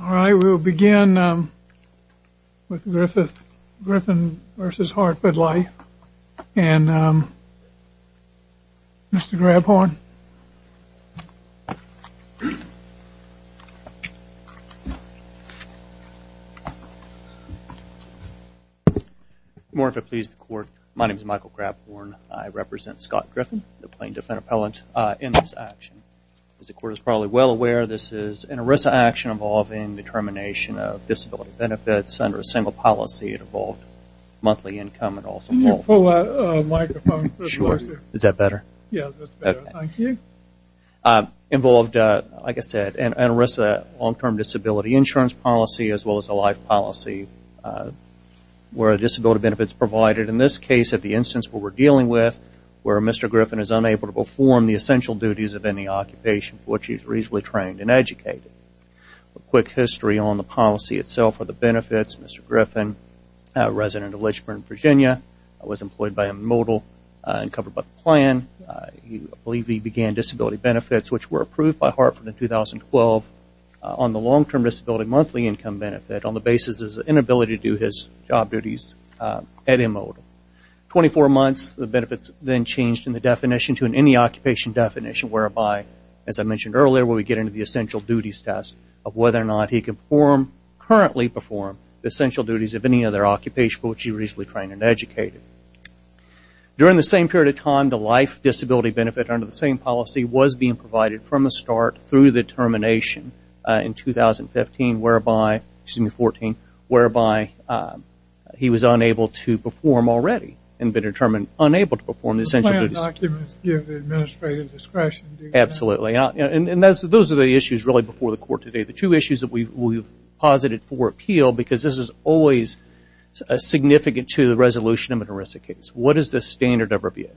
Alright, we'll begin with Griffin v. Hartford Life and Mr. Grabhorn. Good morning, if it pleases the court. My name is Michael Grabhorn. I represent Scott Griffin, the Plaintiff and Appellant, in this action. As the court is probably well aware, this is an ERISA action involving the termination of disability benefits under a single policy. It involved monthly income and also... Can you pull out a microphone? Sure. Is that better? Yeah, that's better. Thank you. Involved, like I said, an ERISA long-term disability insurance policy as well as a life policy where a disability benefit is provided. In this case, at the instance where we're dealing with, where Mr. Griffin is unable to perform the essential duties of any occupation for which he is reasonably trained and educated. A quick history on the policy itself for the benefits. Mr. Griffin, a resident of Lichford, Virginia, was employed by Immodal and covered by the plan. I believe he began disability benefits, which were approved by Hartford in 2012 on the long-term disability monthly income benefit on the basis of inability to do his job duties at Immodal. Twenty-four months, the benefits then changed in the definition to an any occupation definition, whereby, as I mentioned earlier, where we get into the essential duties test of whether or not he can perform, currently perform, the essential duties of any other occupation for which he is reasonably trained and educated. During the same period of time, the life disability benefit under the same policy was being provided from the start through the termination in 2015, whereby, excuse me, 2014, whereby he was unable to perform already and been determined unable to perform the essential duties. The plan documents give the administrative discretion, do you think? Absolutely. Those are the issues really before the court today. The two issues that we've posited for appeal, because this is always significant to the resolution of an ERISA case. What is the standard of review?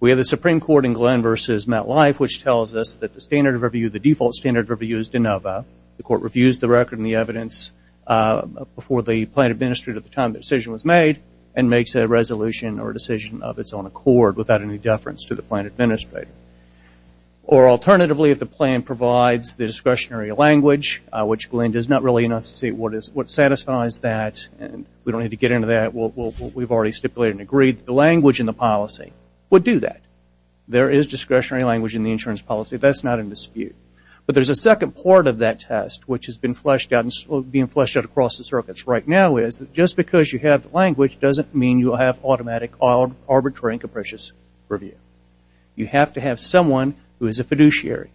We have the Supreme Court in Glenn v. MetLife, which tells us that the standard of review, the default standard of review is de novo. The court reviews the record and the evidence before the plan administrator at the time the decision was made and makes a resolution or decision of its own accord without any deference to the plan administrator. Or alternatively, if the plan provides the discretionary language, which Glenn does not really enunciate what satisfies that, and we don't need to get into that. We've already stipulated and agreed that the language in the policy would do that. There is discretionary language in the insurance policy. That's not in dispute. But there's a second part of that test, which has been fleshed out across the circuits right now, is just because you have the language doesn't mean you have automatic, arbitrary and capricious review. You have to have someone who is a fiduciary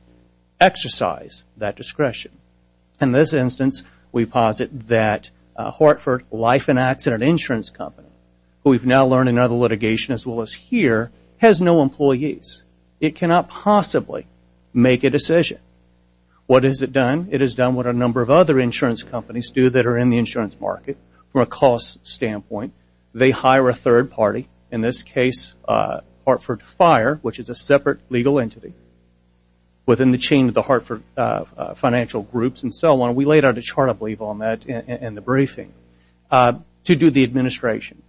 exercise that discretion. In this instance, we posit that Hartford Life and Accident Insurance Company, who we've now learned in other litigation as well as here, has no employees. It cannot possibly make a decision. What has it done? It has done what a number of other insurance companies do that are in the insurance market from a cost standpoint. They hire a third party, in this case Hartford Fire, which is a separate legal entity within the chain of the Hartford financial groups and so on. We laid out a chart, I believe, on that in the briefing, to do the administration.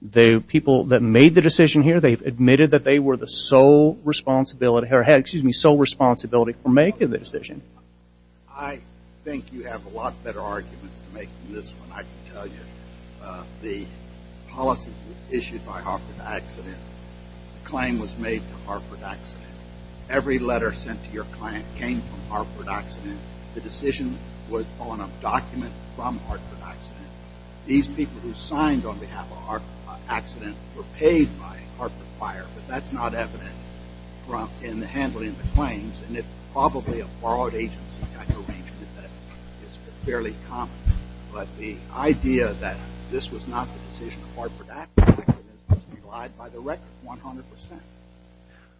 The people that made the decision here, they've admitted that they were the sole responsibility for making the decision. I think you have a lot better arguments to make than this one. I can tell you the policy was issued by Hartford Accident. The claim was made to Hartford Accident. Every letter sent to your client came from Hartford Accident. The decision was on a document from Hartford Accident. These people who signed on behalf of Hartford Accident were paid by Hartford Fire, but that's not evident in the handling of the claims. It's probably a borrowed agency kind of arrangement that is fairly common. The idea that this was not the decision of Hartford Accident was denied by the record 100%.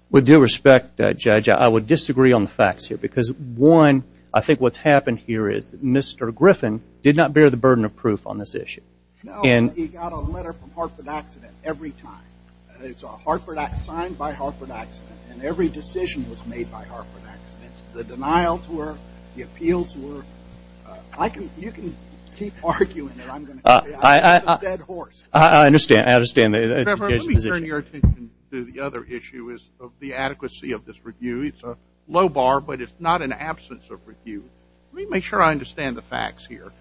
With due respect, Judge, I would disagree on the facts here because, one, I think what's happened here is that Mr. Griffin did not bear the burden of proof on this issue. No, but he got a letter from Hartford Accident every time. It's a Hartford Accident, signed by Hartford Accident, and every decision was made by Hartford Accident. The denials were, the appeals were. I can, you can keep arguing it. I'm going to carry on. I understand. I understand. Mr. Griffin, let me turn your attention to the other issue of the adequacy of this review. It's a low bar, but it's not an absence of review. Let me make sure I understand the facts here.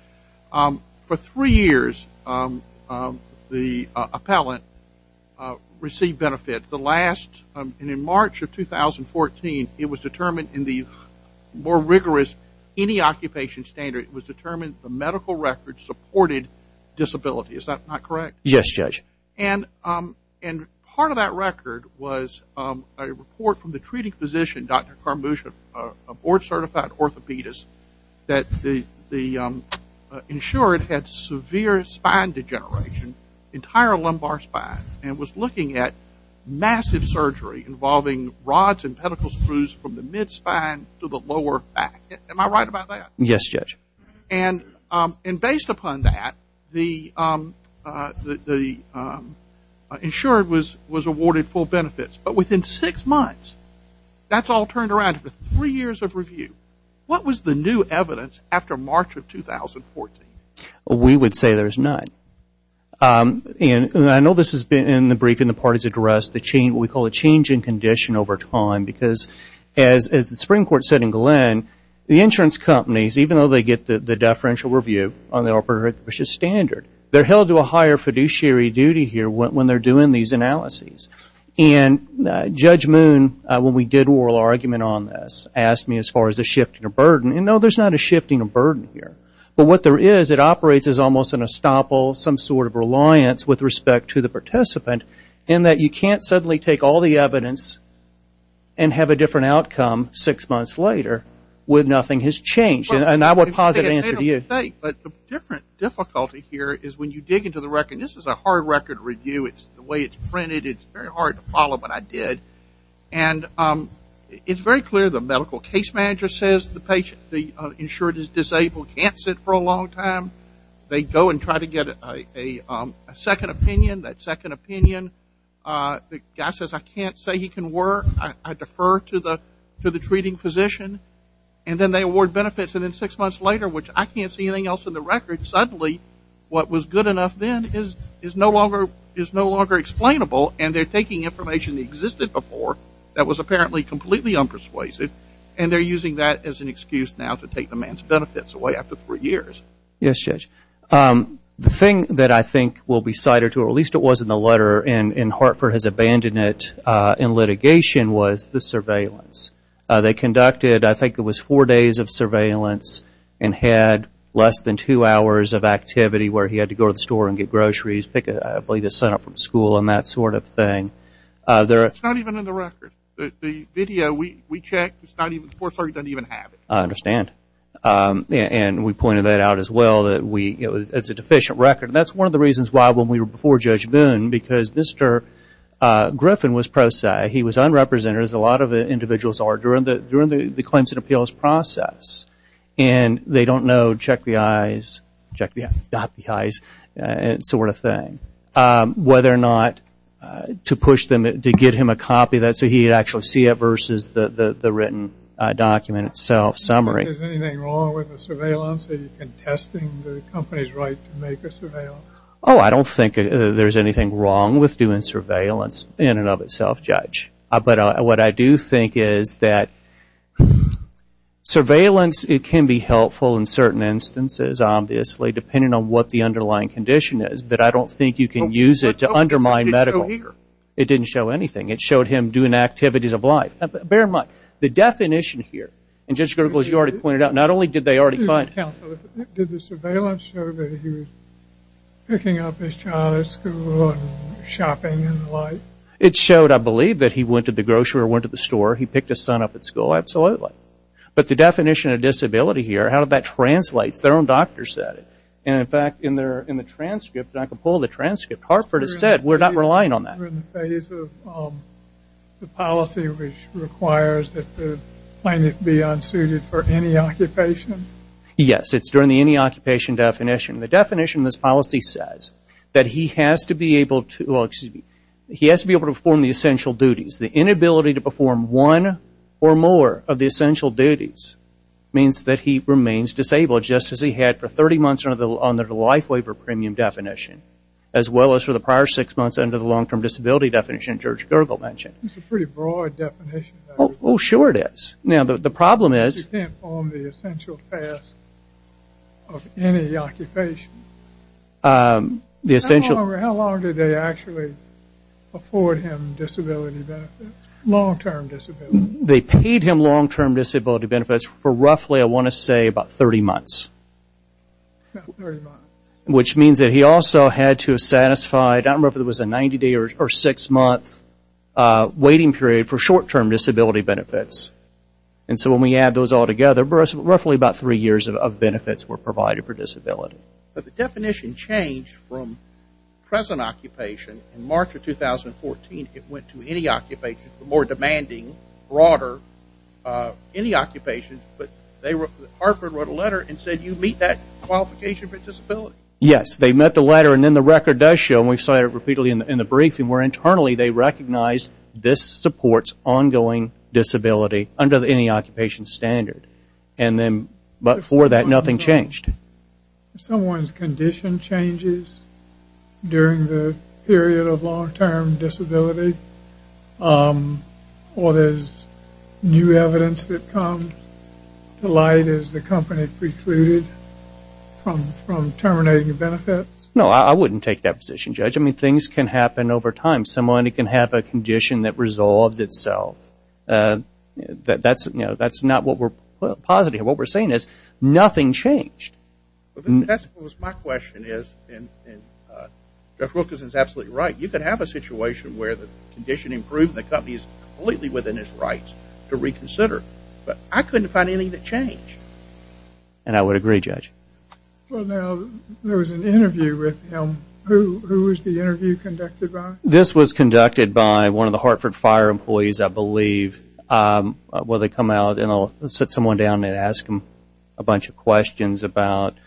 For three years, the appellant received benefits. The last, in March of 2014, it was determined in the more rigorous, any occupation standard, it was determined the medical record supported disability. Is that not correct? Yes, Judge. And part of that record was a report from the treating physician, Dr. Karmusha, a board certified orthopedist, that the insured had severe spine degeneration, entire lumbar spine, and was looking at massive surgery involving rods and pedicle screws from the mid spine to the lower back. Am I right about that? Yes, Judge. And based upon that, the insured was awarded full benefits. But within six months, that's all turned around after three years of review. What was the new evidence after March of 2014? We would say there's none. And I know this has been in the briefing the parties addressed, the change, what we call a change in condition over time, because as the Supreme Court said in Glenn, the insurance companies, even though they get the deferential review on the orthopedic standard, they're held to a higher fiduciary duty here when they're doing these analyses. And Judge Moon, when we did oral argument on this, asked me as far as the shift in the burden. And no, there's not a shift in the burden here. But what there is, it operates as almost an estoppel, some sort of reliance with respect to the participant in that you can't suddenly take all the evidence and have a different outcome six months later with nothing has changed. And I would posit an answer to you. But the different difficulty here is when you dig into the record, and this is a hard record review. It's the way it's printed. It's very hard to follow, but I did. And it's very clear the medical case manager says the patient, the insured is disabled, can't sit for a long time. They go and try to get a second opinion. That second opinion is given to the treating physician. And then they award benefits. And then six months later, which I can't see anything else in the record, suddenly what was good enough then is no longer explainable. And they're taking information that existed before that was apparently completely unpersuasive, and they're using that as an excuse now to take the man's benefits away after three years. Yes, Judge. The thing that I think will be cited, or at least it was in the letter, and Hartford has abandoned it in litigation, was the surveillance. They conducted, I think it was four days of surveillance, and had less than two hours of activity where he had to go to the store and get groceries, pick up, I believe, his son up from school and that sort of thing. It's not even in the record. The video, we checked, the Fourth Circuit doesn't even have it. I understand. And we pointed that out as well, that it's a deficient record. And that's one of the reasons why, before Judge Boone, because Mr. Griffin was pro se. He was unrepresented, as a lot of individuals are, during the claims and appeals process. And they don't know, check the eyes, check the eyes, not the eyes, that sort of thing, whether or not to push them to get him a copy of that so he'd actually see it versus the written document itself, summary. Is anything wrong with the surveillance? Are you contesting the company's right to make a surveillance? Oh, I don't think there's anything wrong with doing surveillance in and of itself, Judge. But what I do think is that surveillance, it can be helpful in certain instances, obviously, depending on what the underlying condition is. But I don't think you can use it to undermine medical. It didn't show anything. It showed him doing activities of life. Bear in mind, the definition here, and Judge Gergel, as you already pointed out, not only did they already find him. Did the surveillance show that he was picking up his child at school and shopping and the like? It showed, I believe, that he went to the grocery or went to the store. He picked his son up at school, absolutely. But the definition of disability here, how did that translate? Their own doctor said it. And in fact, in the transcript, and I can pull the transcript, Hartford has said, we're not relying on that. Are we in the phase of the policy which requires that the plaintiff be unsuited for any occupation? Yes, it's during the any occupation definition. The definition of this policy says that he has to be able to, well, excuse me, he has to be able to perform the essential duties. The inability to perform one or more of the essential duties means that he remains disabled, just as he had for 30 months under the life waiver premium definition, as well as for the prior six months under the long-term disability definition that George Gergel mentioned. That's a pretty broad definition. Oh, sure it is. Now, the problem is... He can't perform the essential tasks of any occupation. How long did they actually afford him disability benefits, long-term disability benefits? They paid him long-term disability benefits for roughly, I want to say, about 30 months. About 30 months. Which means that he also had to satisfy... I don't remember if it was a 90-day or six-month waiting period for short-term disability benefits. And so when we add those all together, roughly about three years of benefits were provided for disability. But the definition changed from present occupation. In March of 2014, it went to any occupation. The more demanding, broader, any occupation. But Hartford wrote a letter and said, did you meet that qualification for disability? Yes, they met the letter and then the record does show, and we saw it repeatedly in the briefing, where internally they recognized this supports ongoing disability under any occupation standard. And then before that, nothing changed. If someone's condition changes during the period of long-term disability, or there's new evidence that comes to light is the company precluded from terminating benefits? No, I wouldn't take that position, Judge. I mean, things can happen over time. Someone can have a condition that resolves itself. That's not what we're... What we're saying is nothing changed. That's what my question is, and Jeff Wilkerson's absolutely right. You could have a situation where the condition improved and the company's completely within its rights to reconsider. But I couldn't find anything that changed. And I would agree, Judge. Well, now, there was an interview with him. Who was the interview conducted by? This was conducted by one of the Hartford Fire employees, I believe. Well, they come out, and I'll sit someone down and ask them a bunch of questions about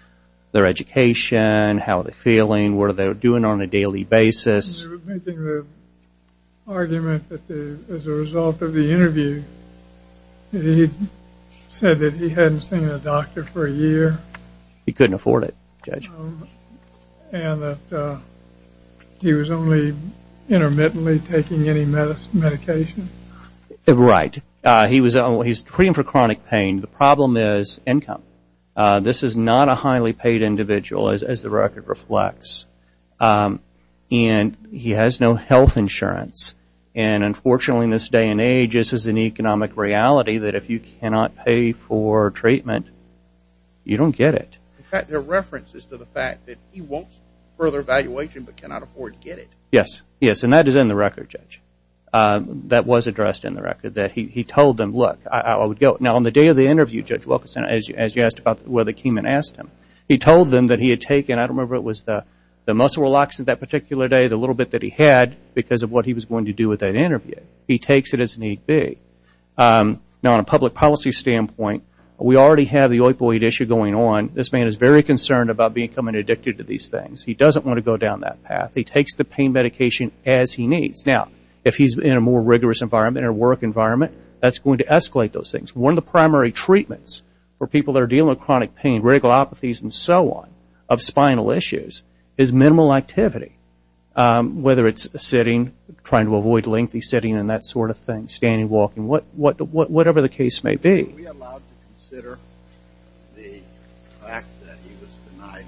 their education, how they're feeling, what are they doing on a daily basis. They were making the argument that as a result of the interview, he said that he hadn't seen a doctor for a year. He couldn't afford it, Judge. And that he was only intermittently taking any medication. Right. He was treating for chronic pain. The problem is income. This is not a highly paid individual, as the record reflects. And he has no health insurance. And unfortunately, in this day and age, this is an economic reality that if you cannot pay for treatment, you don't get it. In fact, there are references to the fact that he wants further evaluation but cannot afford to get it. Yes. Yes, and that is in the record, Judge. That was addressed in the record, that he told them, look, I would go. Now, on the day of the interview, Judge Wilkerson, as you asked about where they came and asked him, he told them that he had taken, I don't remember, it was the muscle relaxant that particular day, the little bit that he had, because of what he was going to do with that interview. He takes it as need be. Now, on a public policy standpoint, we already have the opioid issue going on. This man is very concerned about becoming addicted to these things. He doesn't want to go down that path. He takes the pain medication as he needs. Now, if he's in a more rigorous environment or work environment, that's going to escalate those things. One of the primary treatments for people that are dealing with chronic pain, ritalopathies and so on, of spinal issues, is minimal activity. Whether it's sitting, trying to avoid lengthy sitting and that sort of thing, standing, walking, whatever the case may be. Are we allowed to consider the fact that he was denied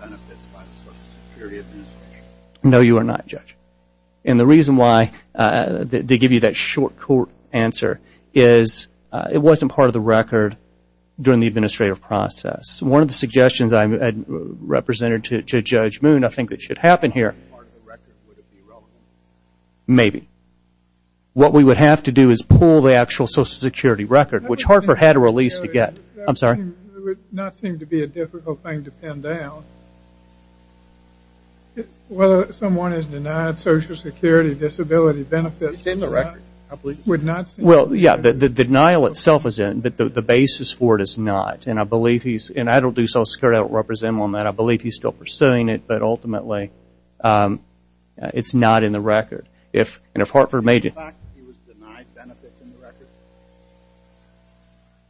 benefits by the Social Security Administration? No, you are not, Judge. And the reason why they give you that short court answer is it wasn't part of the record during the administrative process. One of the suggestions I had represented to Judge Moon, I think that should happen here. Part of the record, would it be relevant? Maybe. What we would have to do is pull the actual Social Security record, which Harper had a release to get. That would not seem to be a difficult thing to pin down. Whether someone is denied Social Security disability benefits is in the record. Well, yeah, the denial itself is in, but the basis for it is not. And I don't do Social Security, I don't represent him on that. I believe he's still pursuing it, but ultimately it's not in the record. And if Harper made it... Is the fact that he was denied benefits in the record?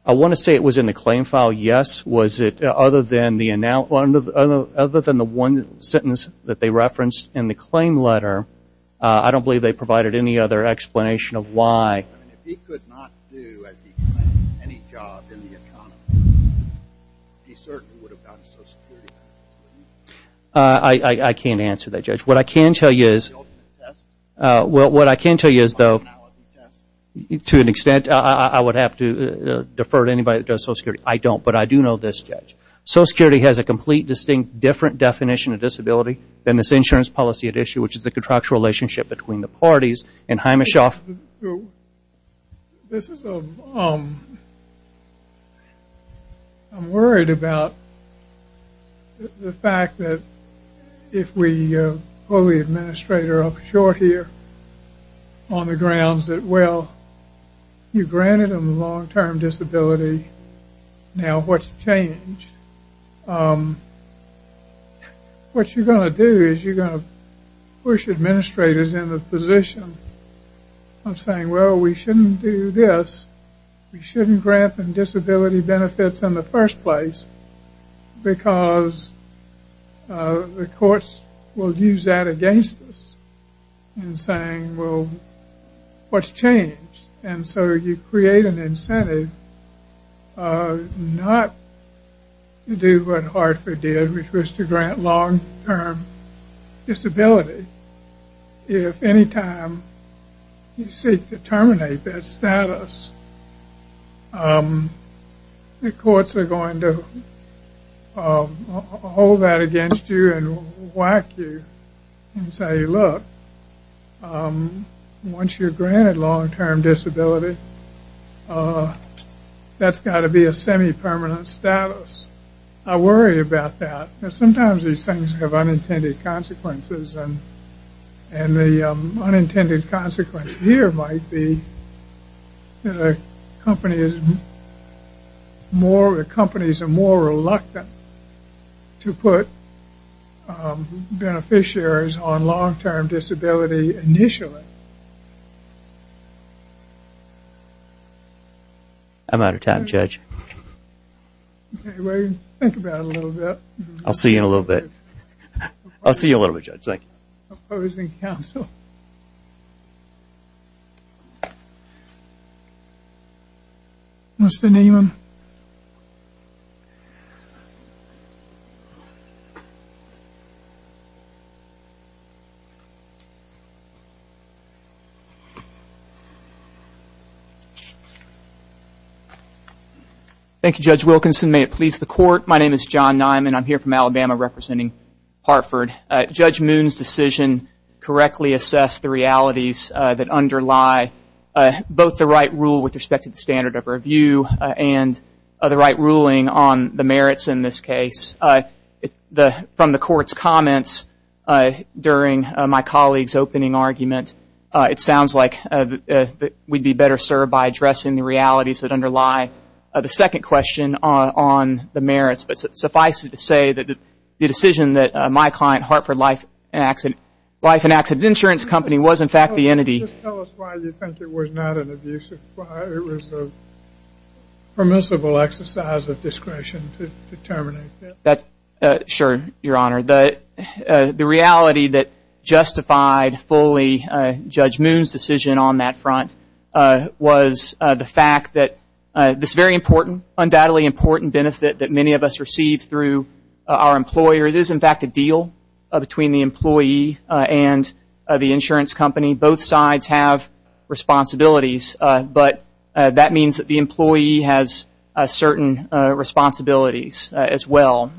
I want to say it was in the claim file, yes. Other than the one sentence that they referenced in the claim letter, I don't believe they provided any other explanation of why. If he could not do, as he claims, any job in the economy, he certainly would have gotten Social Security benefits. I can't answer that, Judge. What I can tell you is... Well, what I can tell you is, though, to an extent, I would have to defer to anybody that does Social Security. I don't, but I do know this, Judge. Social Security has a complete, distinct, different definition of disability than this insurance policy at issue, which is the contractual relationship between the parties and Heimischoff. This is a... I'm worried about the fact that if we pull the administrator up short here on the grounds that, well, you granted him a long-term disability, now what's changed? Um, what you're going to do is you're going to push administrators in the position of saying, well, we shouldn't do this. We shouldn't grant them disability benefits in the first place because the courts will use that against us in saying, well, what's changed? And so you create an incentive not to do what Hartford did, which was to grant long-term disability. If any time you seek to terminate that status, the courts are going to hold that against you and whack you and say, look, once you're granted long-term disability, that's got to be a semi-permanent status. I worry about that. Sometimes these things have unintended consequences, and the unintended consequence here might be that a company is more... that companies are more reluctant to put beneficiaries on long-term disability initially. Okay. I'm out of time, Judge. Think about it a little bit. I'll see you in a little bit. I'll see you in a little bit, Judge. Thank you. Opposing counsel. Mr. Newman? Thank you, Judge Wilkinson. May it please the court. My name is John Nyman. I'm here from Alabama representing Hartford. Judge Moon's decision correctly assessed the realities that underlie both the right rule with respect to the standard of review and the right ruling on the merits in this case. From the court's comments during my colleague's opening argument, it sounds like we'd be better served by addressing the realities that underlie the second question on the merits. But suffice it to say that the decision that my client, Hartford Life and Accident Insurance Company, was in fact the entity... Just tell us why you think it was not an abusive... it was a permissible exercise of discretion to terminate that. Sure, Your Honor. The reality that justified fully Judge Moon's decision on that front was the fact that this very important, undoubtedly important benefit that many of us receive through our employers is in fact a deal between the employee and the insurance company. Both sides have responsibilities, but that means that the employee has certain responsibilities as well.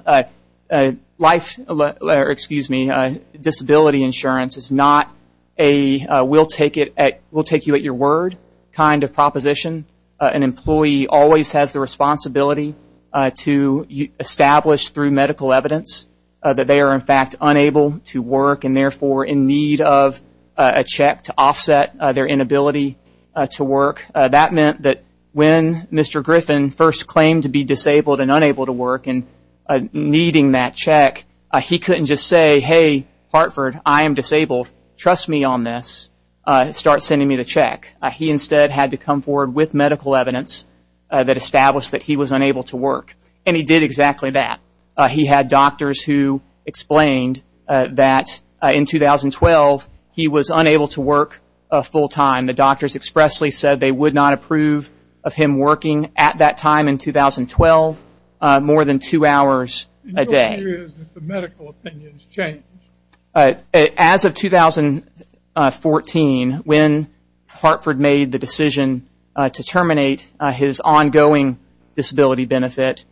Life, excuse me, disability insurance is not a we'll take it at... we'll take you at your word kind of proposition. An employee always has the responsibility to establish through medical evidence that they are in fact unable to work and therefore in need of a check to offset their inability to work. That meant that when Mr. Griffin first claimed to be disabled and unable to work and needing that check, he couldn't just say, hey, Hartford, I am disabled, trust me on this, start sending me the check. He instead had to come forward with medical evidence that established that he was unable to work. And he did exactly that. He had doctors who explained that in 2012 he was unable to work full time. The doctors expressly said they would not approve of him working at that time in 2012 more than two hours a day. Your view is that the medical opinions change? As of 2014, when Hartford made the decision to terminate his ongoing disability benefit,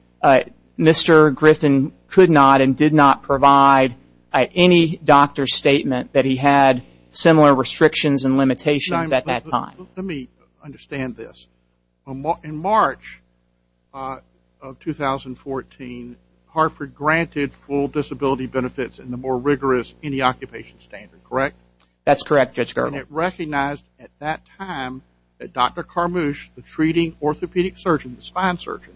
Mr. Griffin could not and did not provide any doctor's statement that he had similar restrictions and limitations at that time. Let me understand this. In March of 2014, Hartford granted full disability benefits in the more rigorous anti-occupation standard, correct? That's correct, Judge Gergel. And it recognized at that time that Dr. Carmouche, the treating orthopedic surgeon, the spine surgeon,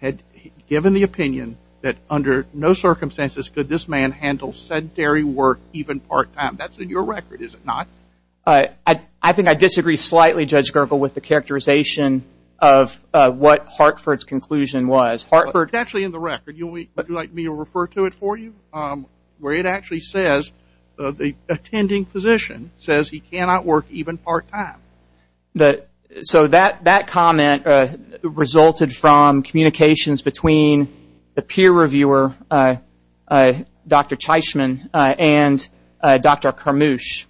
had given the opinion that under no circumstances could this man handle sedentary work even part-time. That's in your record, is it not? I think I disagree slightly, Judge Gergel, with the characterization of what Hartford's conclusion was. It's actually in the record. Would you like me to refer to it for you? Where it actually says the attending physician says he cannot work even part-time. So that comment resulted from communications between the peer reviewer, Dr. Cheichman, and Dr. Carmouche,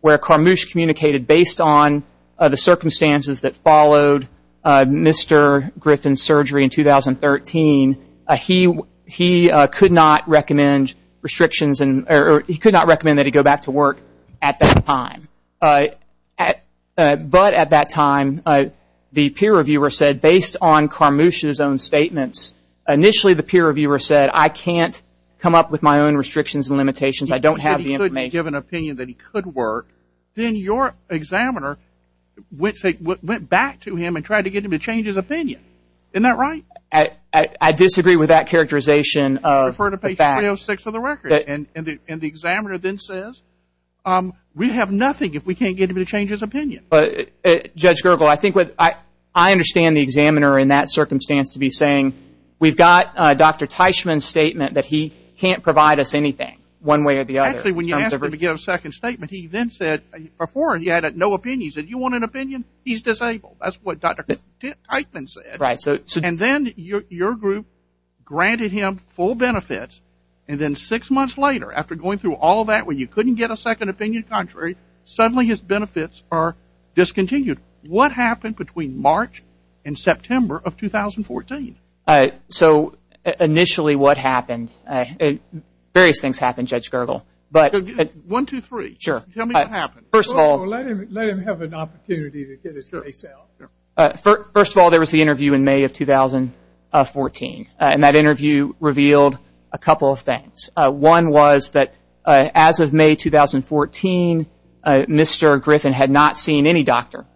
where Carmouche communicated based on the circumstances that followed Mr. Griffin's surgery in 2013, he could not recommend restrictions or he could not recommend that he go back to work at that time. But at that time, the peer reviewer said based on Carmouche's own statements, initially the peer reviewer said I can't come up with my own restrictions and limitations, I don't have the information. I don't have the opinion that he could work. Then your examiner went back to him and tried to get him to change his opinion. Isn't that right? I disagree with that characterization. Refer to page 306 of the record. And the examiner then says we have nothing if we can't get him to change his opinion. Judge Gergel, I understand the examiner in that circumstance to be saying we've got Dr. Cheichman's statement that he can't provide us anything one way or the other. Actually, when you asked him to give a second statement, he then said, before he had no opinion, he said you want an opinion? He's disabled. That's what Dr. Cheichman said. And then your group granted him full benefits and then six months later, after going through all that where you couldn't get a second opinion, suddenly his benefits are discontinued. What happened between March and September of 2014? So initially what happened? Various things happened, Judge Gergel. One, two, three. Tell me what happened. Let him have an opportunity to get his case out. First of all, there was the interview in May of 2014. And that interview revealed a couple of things. One was that as of May 2014, Mr. Griffin had not seen any doctor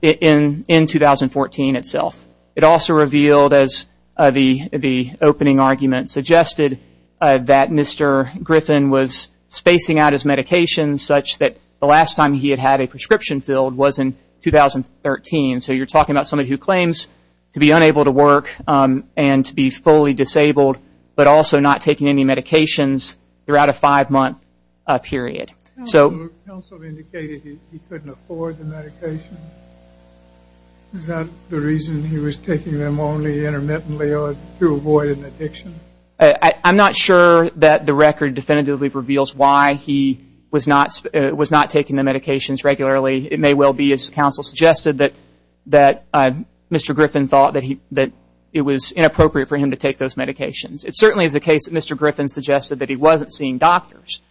in 2014 itself. It also revealed, as the opening argument suggested, that Mr. Griffin was spacing out his medications such that the last time he had had a prescription filled was in 2013. So you're talking about somebody who claims to be unable to work and to be fully disabled but also not taking any medications throughout a five-month period. Counsel indicated he couldn't afford the medication. Is that the reason he was taking them only intermittently to avoid an addiction? I'm not sure that the record definitively reveals why he was not taking the medications regularly. It may well be, as counsel suggested, that Mr. Griffin thought that it was inappropriate for him to take those medications. It certainly is the case that Mr. Griffin suggested that he wasn't seeing doctors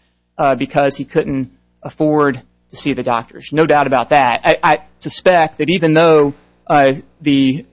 because he couldn't afford to see the doctors. No doubt about that. I suspect that even though the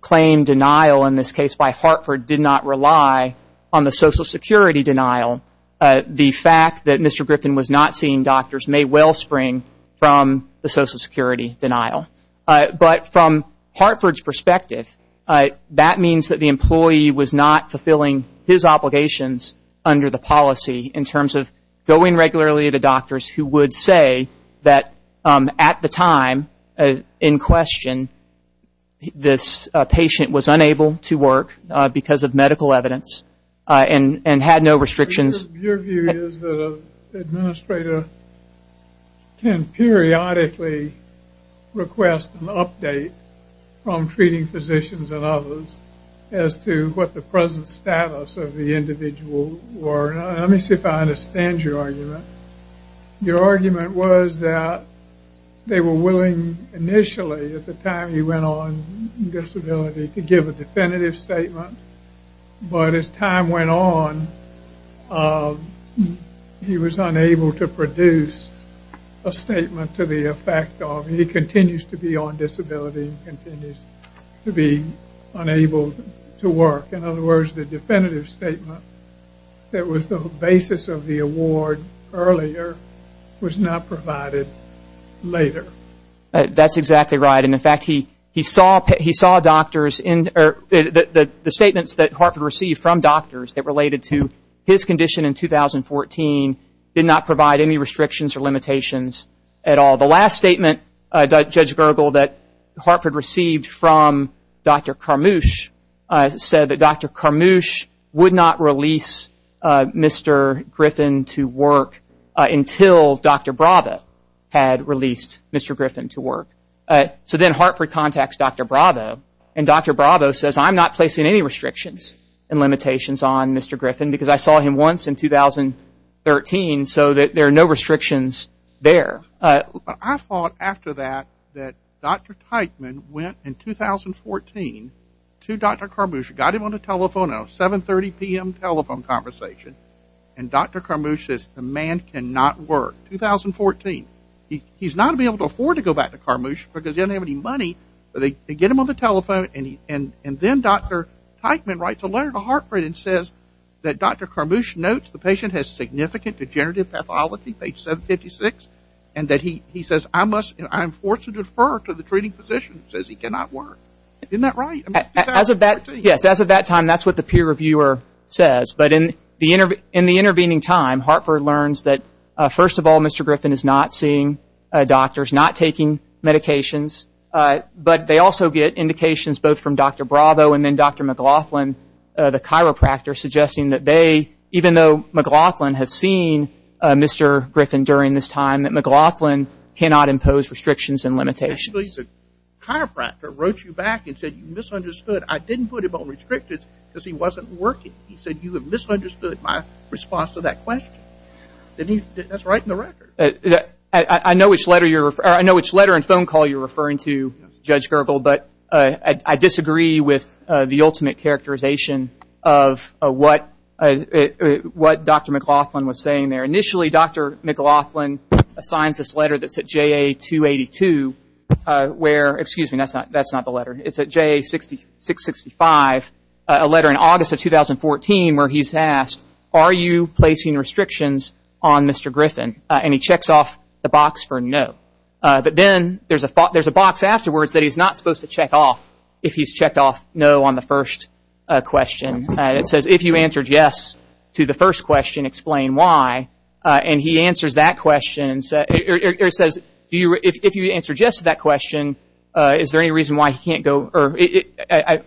claim denial in this case by Hartford did not rely on the Social Security denial, the fact that Mr. Griffin was not seeing doctors may well spring from the Social Security denial. But from Hartford's perspective, that means that the employee was not fulfilling his obligations under the policy in terms of going regularly to doctors who would say that at the time in question this patient was unable to work because of medical evidence and had no restrictions. Your view is that an administrator can periodically request an update from treating physicians the present status of the individual were. Let me see if I understand your argument. Your argument was that they were willing initially at the time he went on disability to give a definitive statement but as time went on he was unable to produce a statement to the effect of he continues to be on disability and continues to be unable to work. In other words, the definitive statement that was the basis of the award earlier was not provided later. That's exactly right and in fact he saw doctors the statements that Hartford received from doctors that related to his condition in 2014 did not provide any restrictions or limitations at all. The last statement Judge Gergel that Hartford received from Dr. Carmouche said that Dr. Carmouche would not release Mr. Griffin to work until Dr. Bravo had released Mr. Griffin to work. So then Hartford contacts Dr. Bravo and Dr. Bravo says I'm not placing any restrictions and limitations on Mr. Griffin because I saw him once in 2013 so that there are no restrictions there. I thought after that that Dr. Teichman went in 2014 to Dr. Carmouche, got him on a telephone conversation and Dr. Carmouche says the man cannot work. 2014. He's not able to afford to go back to Carmouche because he doesn't have any money but they get him on the telephone and then Dr. Teichman writes a letter to Hartford and says that Dr. Carmouche notes the patient has significant degenerative pathology, page 756 and that he says I must I'm forced to defer to the treating physician who says he cannot work. Isn't that right? As of that time that's what the peer reviewer says but in the intervening time Hartford learns that first of all Mr. Griffin is not seeing doctors, not taking medications but they also get indications both from Dr. Bravo and then Dr. McLaughlin, the chiropractor, suggesting that they even though McLaughlin has seen Mr. Griffin during this time that McLaughlin cannot impose restrictions and limitations. The chiropractor wrote you back and said you misunderstood. I didn't put him on restrictions because he wasn't working. He said you have misunderstood my response to that question. That's right in the record. I know which letter and phone call you're referring to Judge Gergel but I disagree with the ultimate characterization of what Dr. McLaughlin was saying there. Initially Dr. McLaughlin signs this letter that's at JA 282 where excuse me that's not the letter it's at JA 665 a letter in August of 2014 where he's asked are you placing restrictions on Mr. Griffin and he checks off the box for no. But then there's a box afterwards that he's not supposed to check off if he's checked off no on the first question that says if you answered yes to the first question explain why and he answers that question or he says if you answer yes to that question is there any reason why he can't go or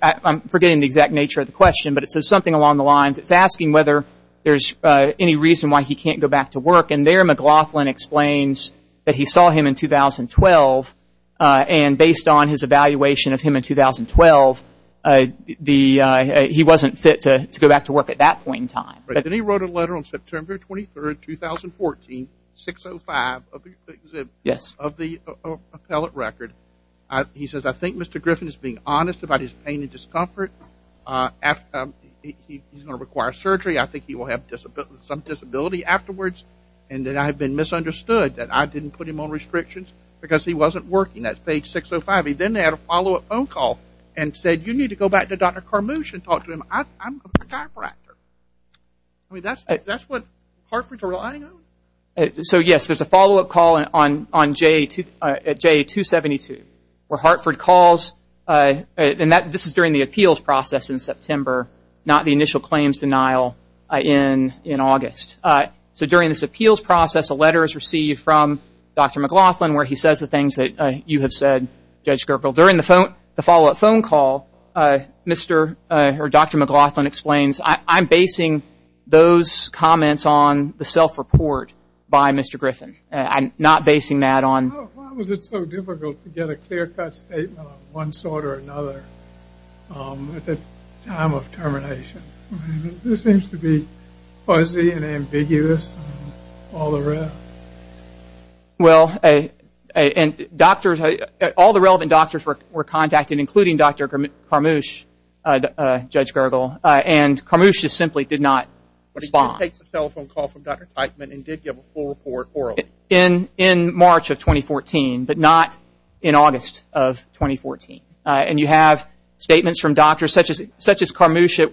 I'm forgetting the exact nature of the question but it says something along the lines it's asking whether there's any reason why he can't go back to work and there McLaughlin explains that he saw him in 2012 and based on his evaluation of him in 2012 he wasn't fit to go back to work at that point in time. Then he wrote a letter on September 23rd 2014 605 of the appellate record he says I think Mr. Griffin is being honest about his pain and discomfort after he's going to require surgery I think he will have some disability afterwards and that I have been misunderstood that I didn't put him on restrictions because he wasn't working at page 605 he then had a follow up phone call and said you need to go back to Dr. Carmouche and talk to him I'm a chiropractor I mean that's what Hartford's relying on? So yes there's a follow up call at J272 where Hartford calls and this is during the appeals process in September not the initial claims denial in August. So during this appeals process a letter is received from Dr. McLaughlin where he says the things that you have said Judge Gerber. During the follow up phone call Dr. McLaughlin explains I'm basing those comments on the self report by Mr. Griffin. I'm not basing that on Why was it so difficult to get a clear cut statement on one sort or another at the time of termination? This seems to be fuzzy and ambiguous and all the rest Well all the relevant doctors were contacted including Dr. Carmouche, Judge Gerber and Carmouche just simply did not respond in March of 2014 but not in August of 2014 and you have statements from doctors such as Carmouche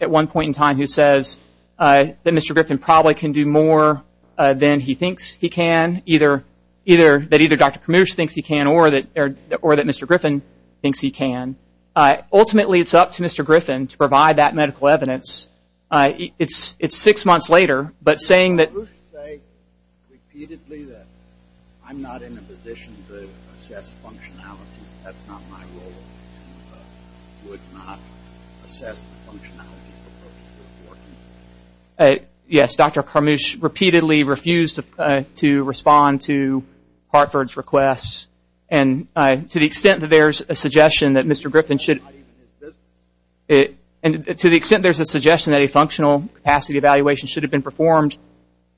at one point in time who says that Mr. Griffin probably can do more than he thinks he can that either Dr. Carmouche thinks he can or that Mr. Griffin thinks he can Ultimately it's up to Mr. Griffin to provide that medical evidence It's six months later but saying that Yes, Dr. Carmouche repeatedly refused to respond to Hartford's requests and to the extent that there's a suggestion that Mr. Griffin should and to the extent there's a suggestion that a functional capacity evaluation should have been performed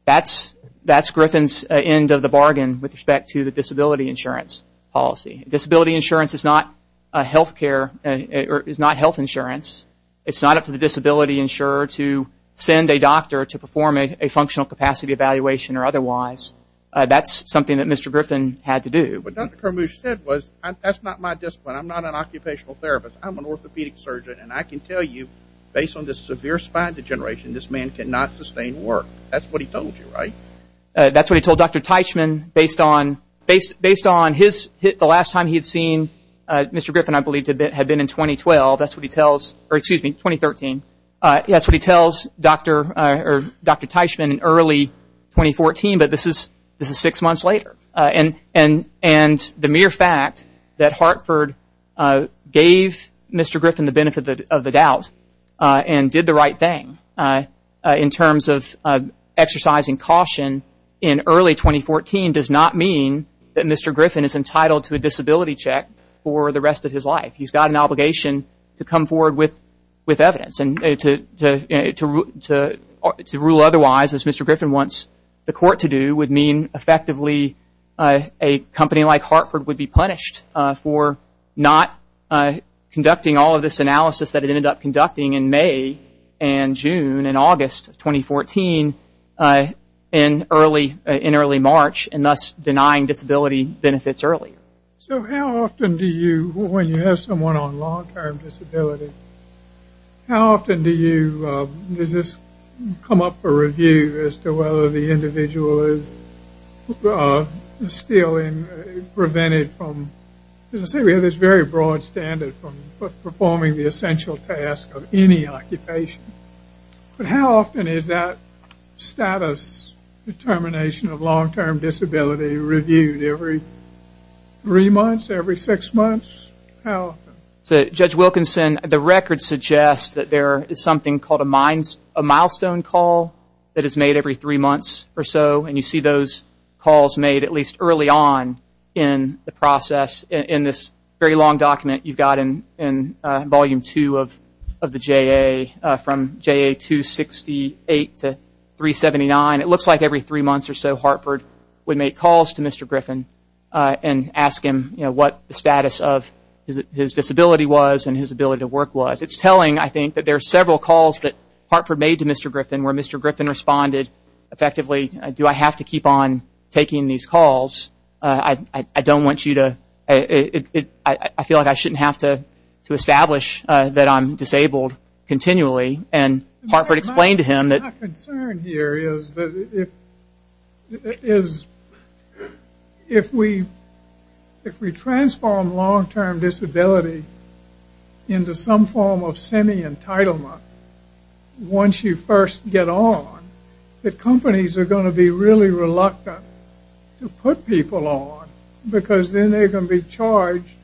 that's Griffin's end of the bargain with respect to the disability insurance policy. Disability insurance is not health care is not health insurance It's not up to the disability insurer to send a doctor to perform a functional capacity evaluation or otherwise That's something that Mr. Griffin had to do That's not my discipline I'm not an occupational therapist I'm an orthopedic surgeon and I can tell you based on this severe spine degeneration this man cannot sustain work That's what he told you, right? That's what he told Dr. Teichman based on the last time he had seen Mr. Griffin I believe had been in 2012 that's what he tells Dr. Teichman in early 2014 but this is six months later and the mere fact that Hartford gave Mr. Griffin the benefit of the doubt and did the right thing in terms of exercising caution in early 2014 does not mean that Mr. Griffin is entitled to a disability check for the rest of his life He's got an obligation to come forward with evidence to rule otherwise Mr. Griffin wants the court to do would mean effectively a company like Hartford would be punished for not conducting all of this analysis that it ended up conducting in May and June and August 2014 in early March and thus denying disability benefits early So how often do you when you have someone on long term disability how often do you come up for review as to whether the individual is still prevented from as I say we have this very broad standard for performing the essential task of any occupation but how often is that status determination of long term disability reviewed every three months, every six months how often? Judge Wilkinson the record suggests that there is something called a milestone call that is made every three months or so and you see those calls made at least early on in the process in this very long document you've got in volume two of the JA from JA 268 to 379 it looks like every three months or so Hartford would make calls to Mr. Griffin and ask him what the status of his disability was and his ability to work was it's telling I think that there are several calls that Hartford made to Mr. Griffin where Mr. Griffin responded effectively do I have to keep on taking these calls I don't want you to I feel like I shouldn't have to establish that I'm disabled continually and Hartford explained to him My concern here is is if we if we transform long term disability into some form of semi entitlement once you first get on the companies are going to be really reluctant to put people on because then they're going to be charged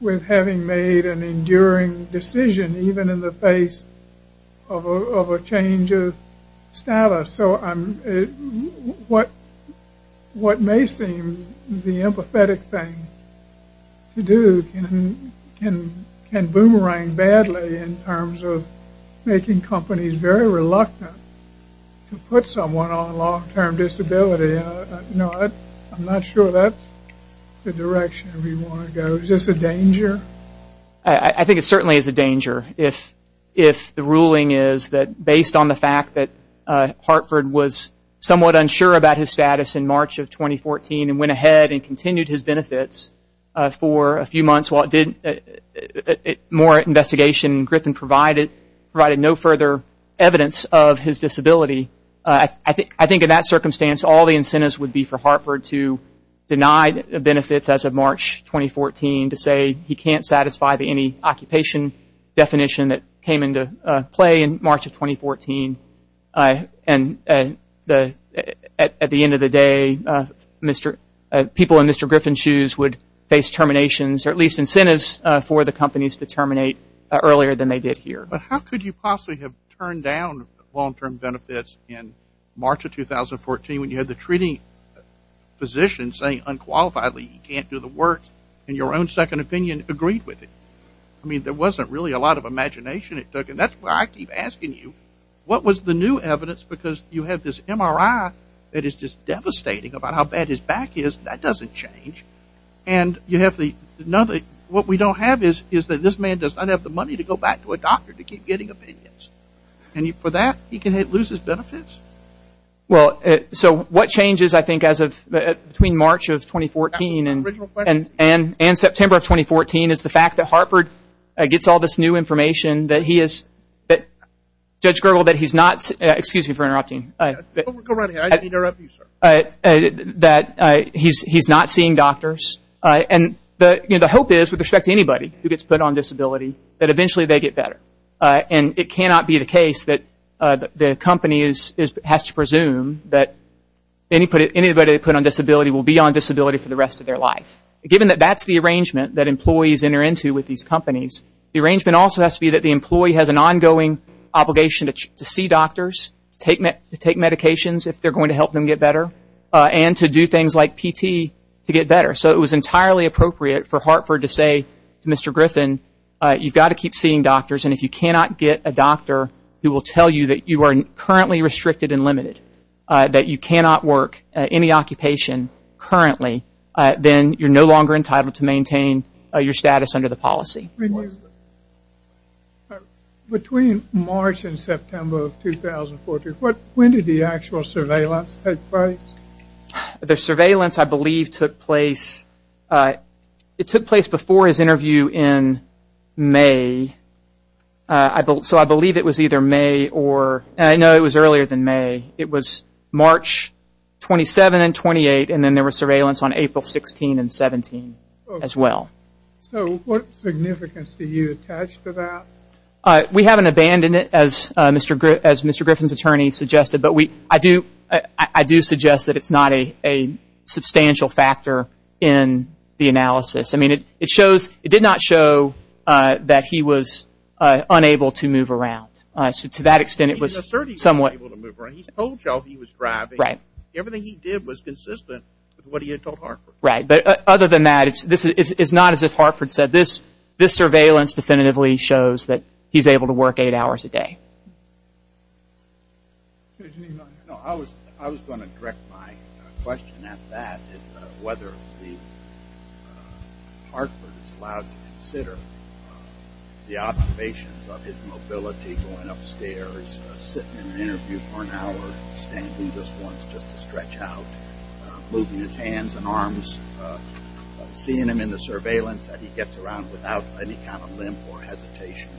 with having made an enduring decision even in the face of a change of status so what may seem the can boomerang badly in terms of making companies very reluctant to put someone on long term disability I'm not sure that the direction we want to go is this a danger I think it certainly is a danger if the ruling is that based on the fact that Hartford was somewhat unsure about his status in March of 2014 and went ahead and continued his benefits for a few months more investigation Griffin provided no further evidence of his disability I think in that circumstance all the incentives would be for Hartford to deny benefits as of March 2014 to say he can't satisfy any occupation definition that came into play in March of 2014 and at the end of the day people in Mr. Griffin's shoes would face terminations or at least incentives for the companies to terminate earlier than they did here How could you possibly have turned down long term benefits in March of 2014 when you had the treating physician saying unqualifiedly he can't do the work in your own second opinion agreed with it? I mean there wasn't really a lot of imagination it took and that's why I keep asking you what was the new evidence because you had this MRI that is just devastating about how bad his back is that doesn't change and you have the what we don't have is that this man does not have the money to go back to a doctor to keep getting opinions and for that he can lose his benefits Well so what changes I think as of between March of 2014 and September of 2014 is the fact that Hartford gets all this new information that he is Judge Gergel that he's not excuse me for interrupting that he's not seeing doctors and the hope is with respect to anybody who gets put on disability that eventually they get better and it cannot be the case that the company has to presume that anybody put on disability will be on disability for the rest of their life given that that's the arrangement that employees enter into with these companies the arrangement also has to be that the employee has an ongoing obligation to see doctors take medications if they're going to help them get better and to do things like PT to get better so it was entirely appropriate for Hartford to say to Mr. Griffin you've got to keep seeing doctors and if you cannot get a doctor who will tell you that you are currently restricted and limited that you cannot work any occupation currently then you're no longer entitled to maintain your status under the policy Between March and September of 2014 when did the actual surveillance take place? The surveillance I believe took place it took place before his interview in May so I believe it was either May or I know it was earlier than May it was March 27 and 28 and then there was surveillance on April 16 and 17 as well So what significance do you attach to that? We haven't abandoned it as Mr. Griffin's attorney suggested but I do suggest that it's not a substantial factor in the analysis it did not show that he was unable to move around to that extent it was somewhat He told y'all he was driving everything he did was consistent with what he had told Hartford Other than that it's not as if Hartford said this surveillance definitively shows that he's able to work 8 hours a day I was going to direct my question at that whether the Hartford is allowed to consider the observations of his mobility going upstairs, sitting in an interview for an hour, standing just once just to stretch out moving his hands and arms seeing him in the surveillance that he gets around without any kind of limp or hesitation,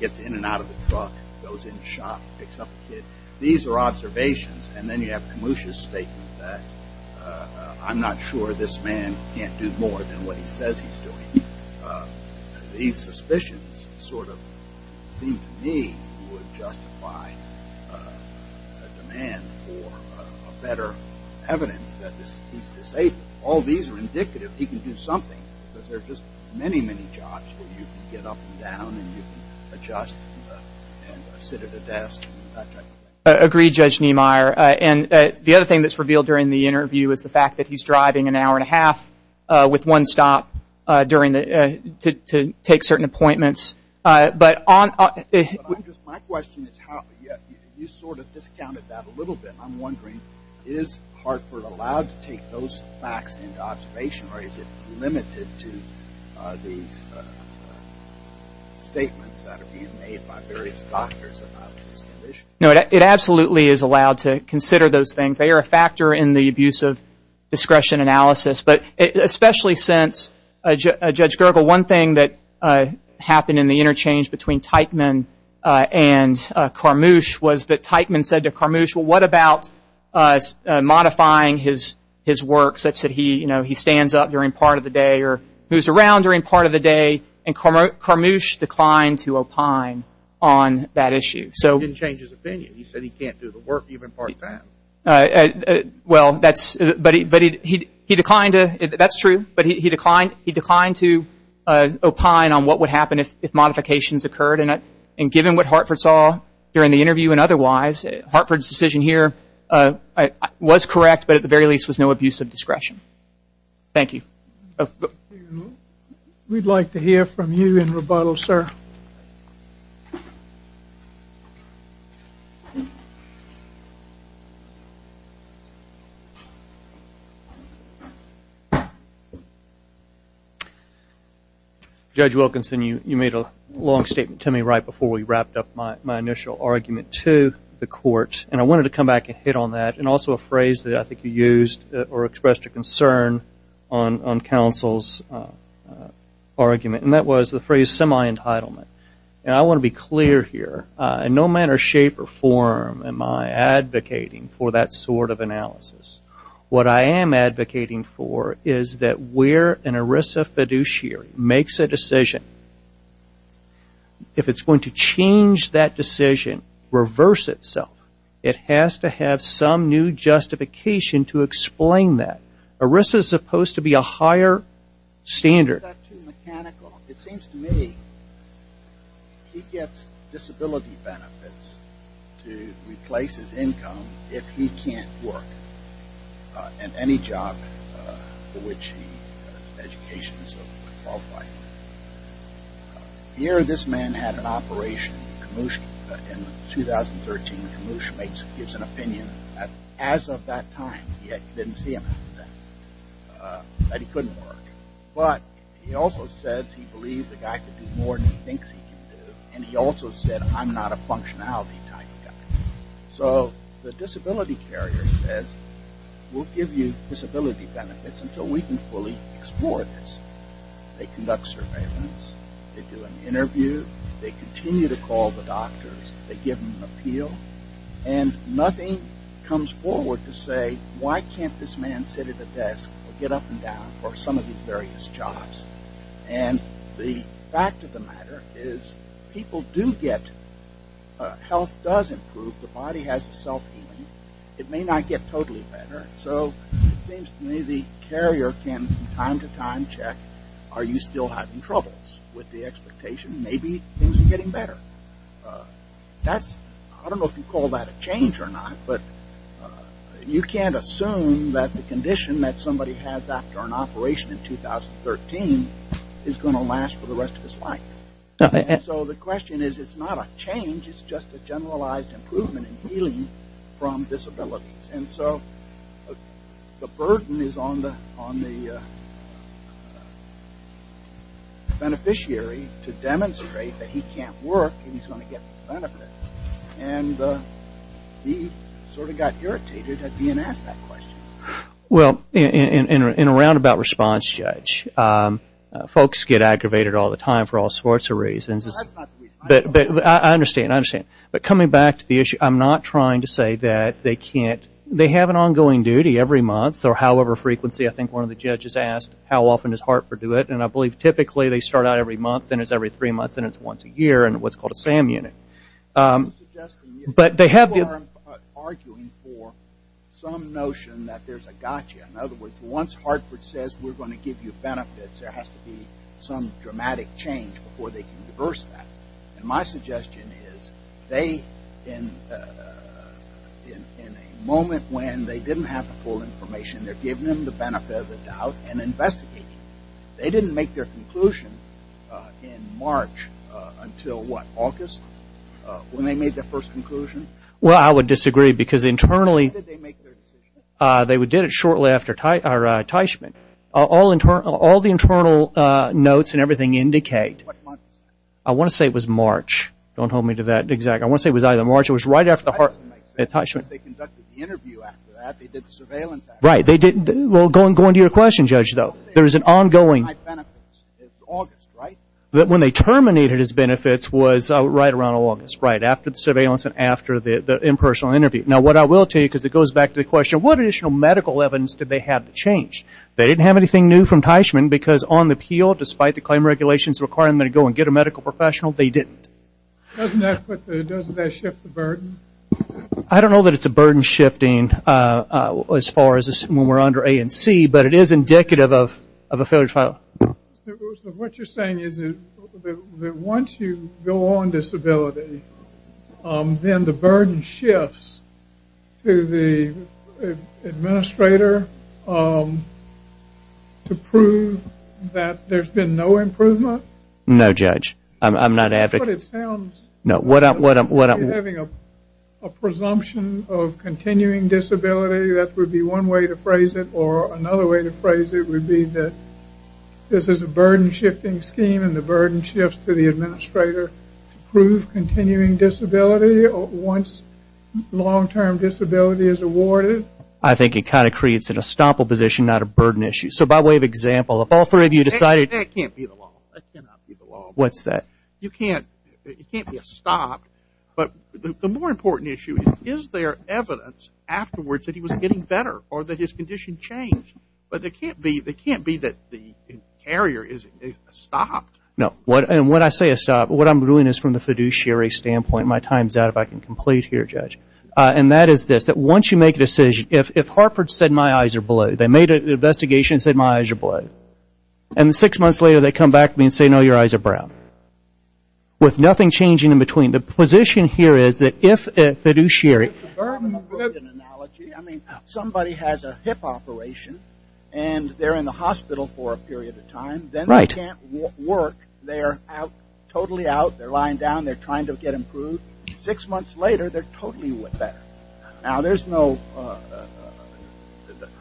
gets in and out of the truck, goes in the shop picks up the kid. These are observations and then you have Kamusha's statement that I'm not sure this man can't do more than what he says he's doing These suspicions sort of seem to me would justify a demand for a better evidence that he's disabled All these are indicative he can do something because there are just many, many jobs where you can get up and down and you can adjust and sit at a desk Agreed Judge Niemeyer The other thing that's revealed during the interview is the fact that he's driving an hour and a half with one stop to take certain appointments But on My question is you sort of discounted that a little bit I'm wondering, is Hartford allowed to take those facts into observation or is it limited to these statements that are being made by various doctors about his condition? No, it absolutely is allowed to consider those things They are a factor in the abuse of discretion analysis, but especially since Judge Gergel One thing that happened in the interchange between Teichman and Carmouche was that Teichman said to Carmouche, well what about modifying his work such that he stands up during part of the day or moves around during part of the day and Carmouche declined to opine on that issue He didn't change his opinion, he said he can't do the work even part time Well, that's he declined to, that's true but he declined to opine on what would happen if modifications occurred and given what Hartford saw during the interview and otherwise Hartford's decision here was correct, but at the very least was no abuse of discretion We'd like to hear from you in rebuttal, sir Judge Wilkinson you made a long statement to me right before we wrapped up my initial argument to the court and I wanted to come back and hit on that and also a phrase that I think you used or expressed a concern on counsel's argument and that was the phrase semi-entitlement and I want to be clear here in no manner, shape, or form am I advocating for that sort of analysis. What I am where an ERISA fiduciary makes a decision if it's going to change that decision, reverse itself, it has to have some new justification to explain that. ERISA's supposed to be a higher standard. It seems to me he gets disability benefits to replace his income if he can't work and any job for which he has an education Here this man had an operation in 2013 gives an opinion as of that time he didn't see him that he couldn't work, but he also says he believes the guy can do more than he thinks he can do and he also said I'm not a functionality type guy. So the disability carrier says we'll give you disability benefits until we can fully explore this. They conduct surveillance, they do an interview they continue to call the doctors they give them an appeal and nothing comes forward to say why can't this man sit at a desk or get up and down for some of these various jobs and the fact of the matter is people do get health does improve, the body has self healing, it may not get totally better, so it seems to me the carrier can time to time check are you still having troubles with the expectation maybe things are getting better that's, I don't know if you call that a change or not, but you can't assume that the condition that somebody has after an operation in 2013 is going to last for the rest of his life. So the question is it's not a change, it's just a generalized improvement in healing from disabilities and so the burden is on the beneficiary to demonstrate that he can't work and he's going to get the benefit and he sort of got irritated at being asked that question. Well, in a roundabout response Judge folks get aggravated all the time for all sorts of reasons but I understand I understand, but coming back to the issue I'm not trying to say that they can't they have an ongoing duty every month or however frequency I think one of the judges asked how often does Hartford do it and I believe typically they start out every month and it's every three months and it's once a year in what's called a SAM unit but they have arguing for some notion that there's a gotcha in other words once Hartford says we're going to give you benefits there has to be some dramatic change before they can reverse that and my suggestion is they in a moment when they didn't have the full information they're giving them the benefit of the doubt and investigating. They didn't make their conclusion in March until what August when they made their first conclusion? Well I would disagree because internally they did it shortly after Teichman all the internal notes and everything indicate I want to say it was March don't hold me to that exact I want to say it was either March or it was right after the Hartford Teichman Right they didn't well going to your question Judge though there's an ongoing that when they terminated his benefits was right around August right after the surveillance and after the impersonal interview. Now what I will tell you because it goes back to the question what additional medical evidence did they have to change? They didn't have anything new from Teichman because on the appeal despite the claim regulations requiring them to go and get a medical professional they didn't. Doesn't that shift the burden? I don't know that it's a burden shifting as far as when we're under A and C but it is indicative of a failure to file. So what you're saying is that once you go on disability then the burden shifts to the administrator to prove that there's been no improvement? No Judge I'm not But it sounds like you're having a presumption of continuing disability that would be one way to phrase it or another way to phrase it would be that this is a burden shifting scheme and the burden shifts to the administrator to prove continuing disability once long term disability is awarded. I think it kind of creates an estoppel position not a burden issue so by way of example if all three of you decided That can't be the law What's that? You can't it can't be a stop but the more important issue is is there evidence afterwards that he was getting better or that his condition changed but it can't be that the carrier is stopped. No and when I say a stop what I'm doing is from the fiduciary standpoint my time's out if I can complete here Judge and that is this once you make a decision if Harford said my eyes are blue they made an investigation and said my eyes are blue and six months later they come back to me and say no your eyes are brown with nothing changing in between the position here is that if a fiduciary I mean somebody has a hip operation and they're in the hospital for a period of time then they can't work they're out totally out they're lying down they're trying to get improved six months later they're totally with that now there's no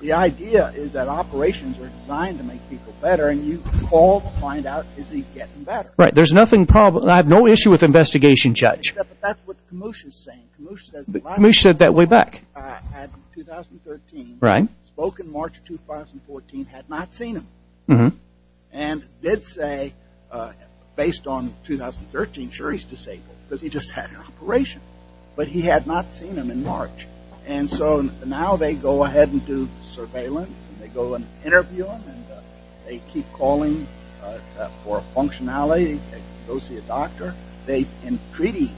the idea is that operations are designed to make people better and you call to find out is he getting better right there's nothing problem I have no issue with investigation Judge that's what Kamush is saying Kamush said that way back in 2013 spoke in March 2014 had not seen him and did say based on 2013 sure he's disabled because he just had an operation but he had not seen him in March and so now they go ahead and do surveillance and they go and interview him and they keep calling for a functionality and go see a doctor they entreaty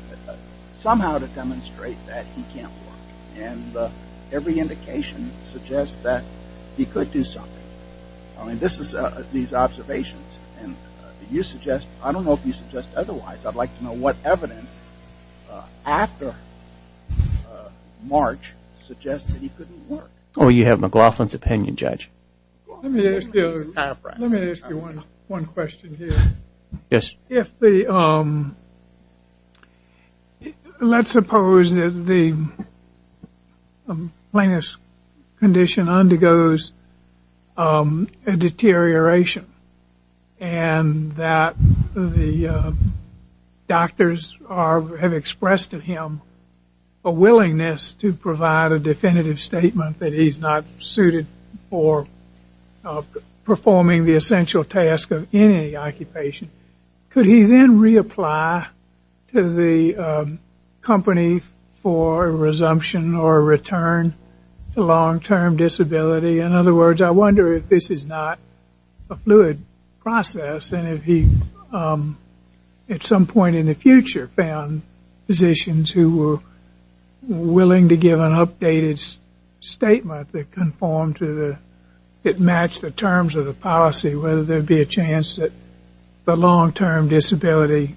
somehow to demonstrate that he can't work and every indication suggests that he could do something this is these observations and you suggest I don't know if you suggest otherwise I'd like to know what evidence after March suggests that he couldn't work oh you have McLaughlin's opinion Judge let me ask you let me ask you one question yes let's suppose that the plaintiff's condition undergoes a deterioration and that the doctors have expressed to him a willingness to provide a definitive statement that he's not suited for performing the essential task of any occupation could he then reapply to the company for a resumption or a return to long term disability in other words I wonder if this is not a fluid process and if he at some point in the future found physicians who were willing to give an updated statement that conformed to the that matched the terms of the policy whether there would be a chance that the long term disability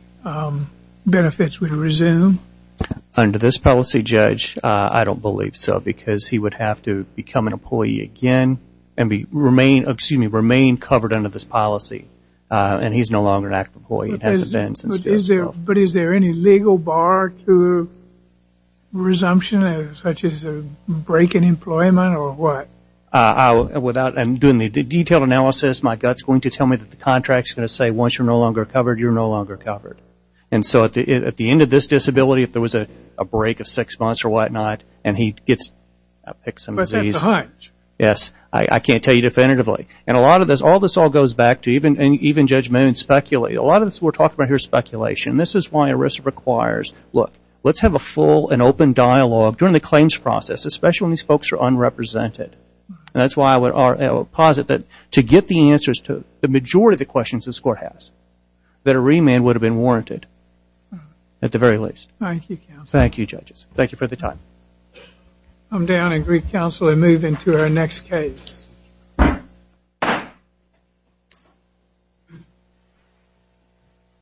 benefits would resume under this policy Judge I don't believe so because he would have to become an employee again and remain covered under this policy and he's no longer an active employee but is there any legal bar to resumption such as a break in employment or what? I'm doing the detailed analysis my gut's going to tell me that the contract's going to say once you're no longer covered you're no longer covered and so at the end of this disability if there was a break of six months or what not and he gets a pick some disease I can't tell you definitively and a lot of this all goes back to even Judge Moon speculated a lot of this we're talking about here is speculation this is why ERISA requires let's have a full and open dialogue during the claims process especially when these folks are unrepresented and that's why I would posit that to get the answers to the majority of the questions this court has that a remand would have been warranted at the very least Thank you judges Thank you for the time I'm down in Greek Council and move into our next case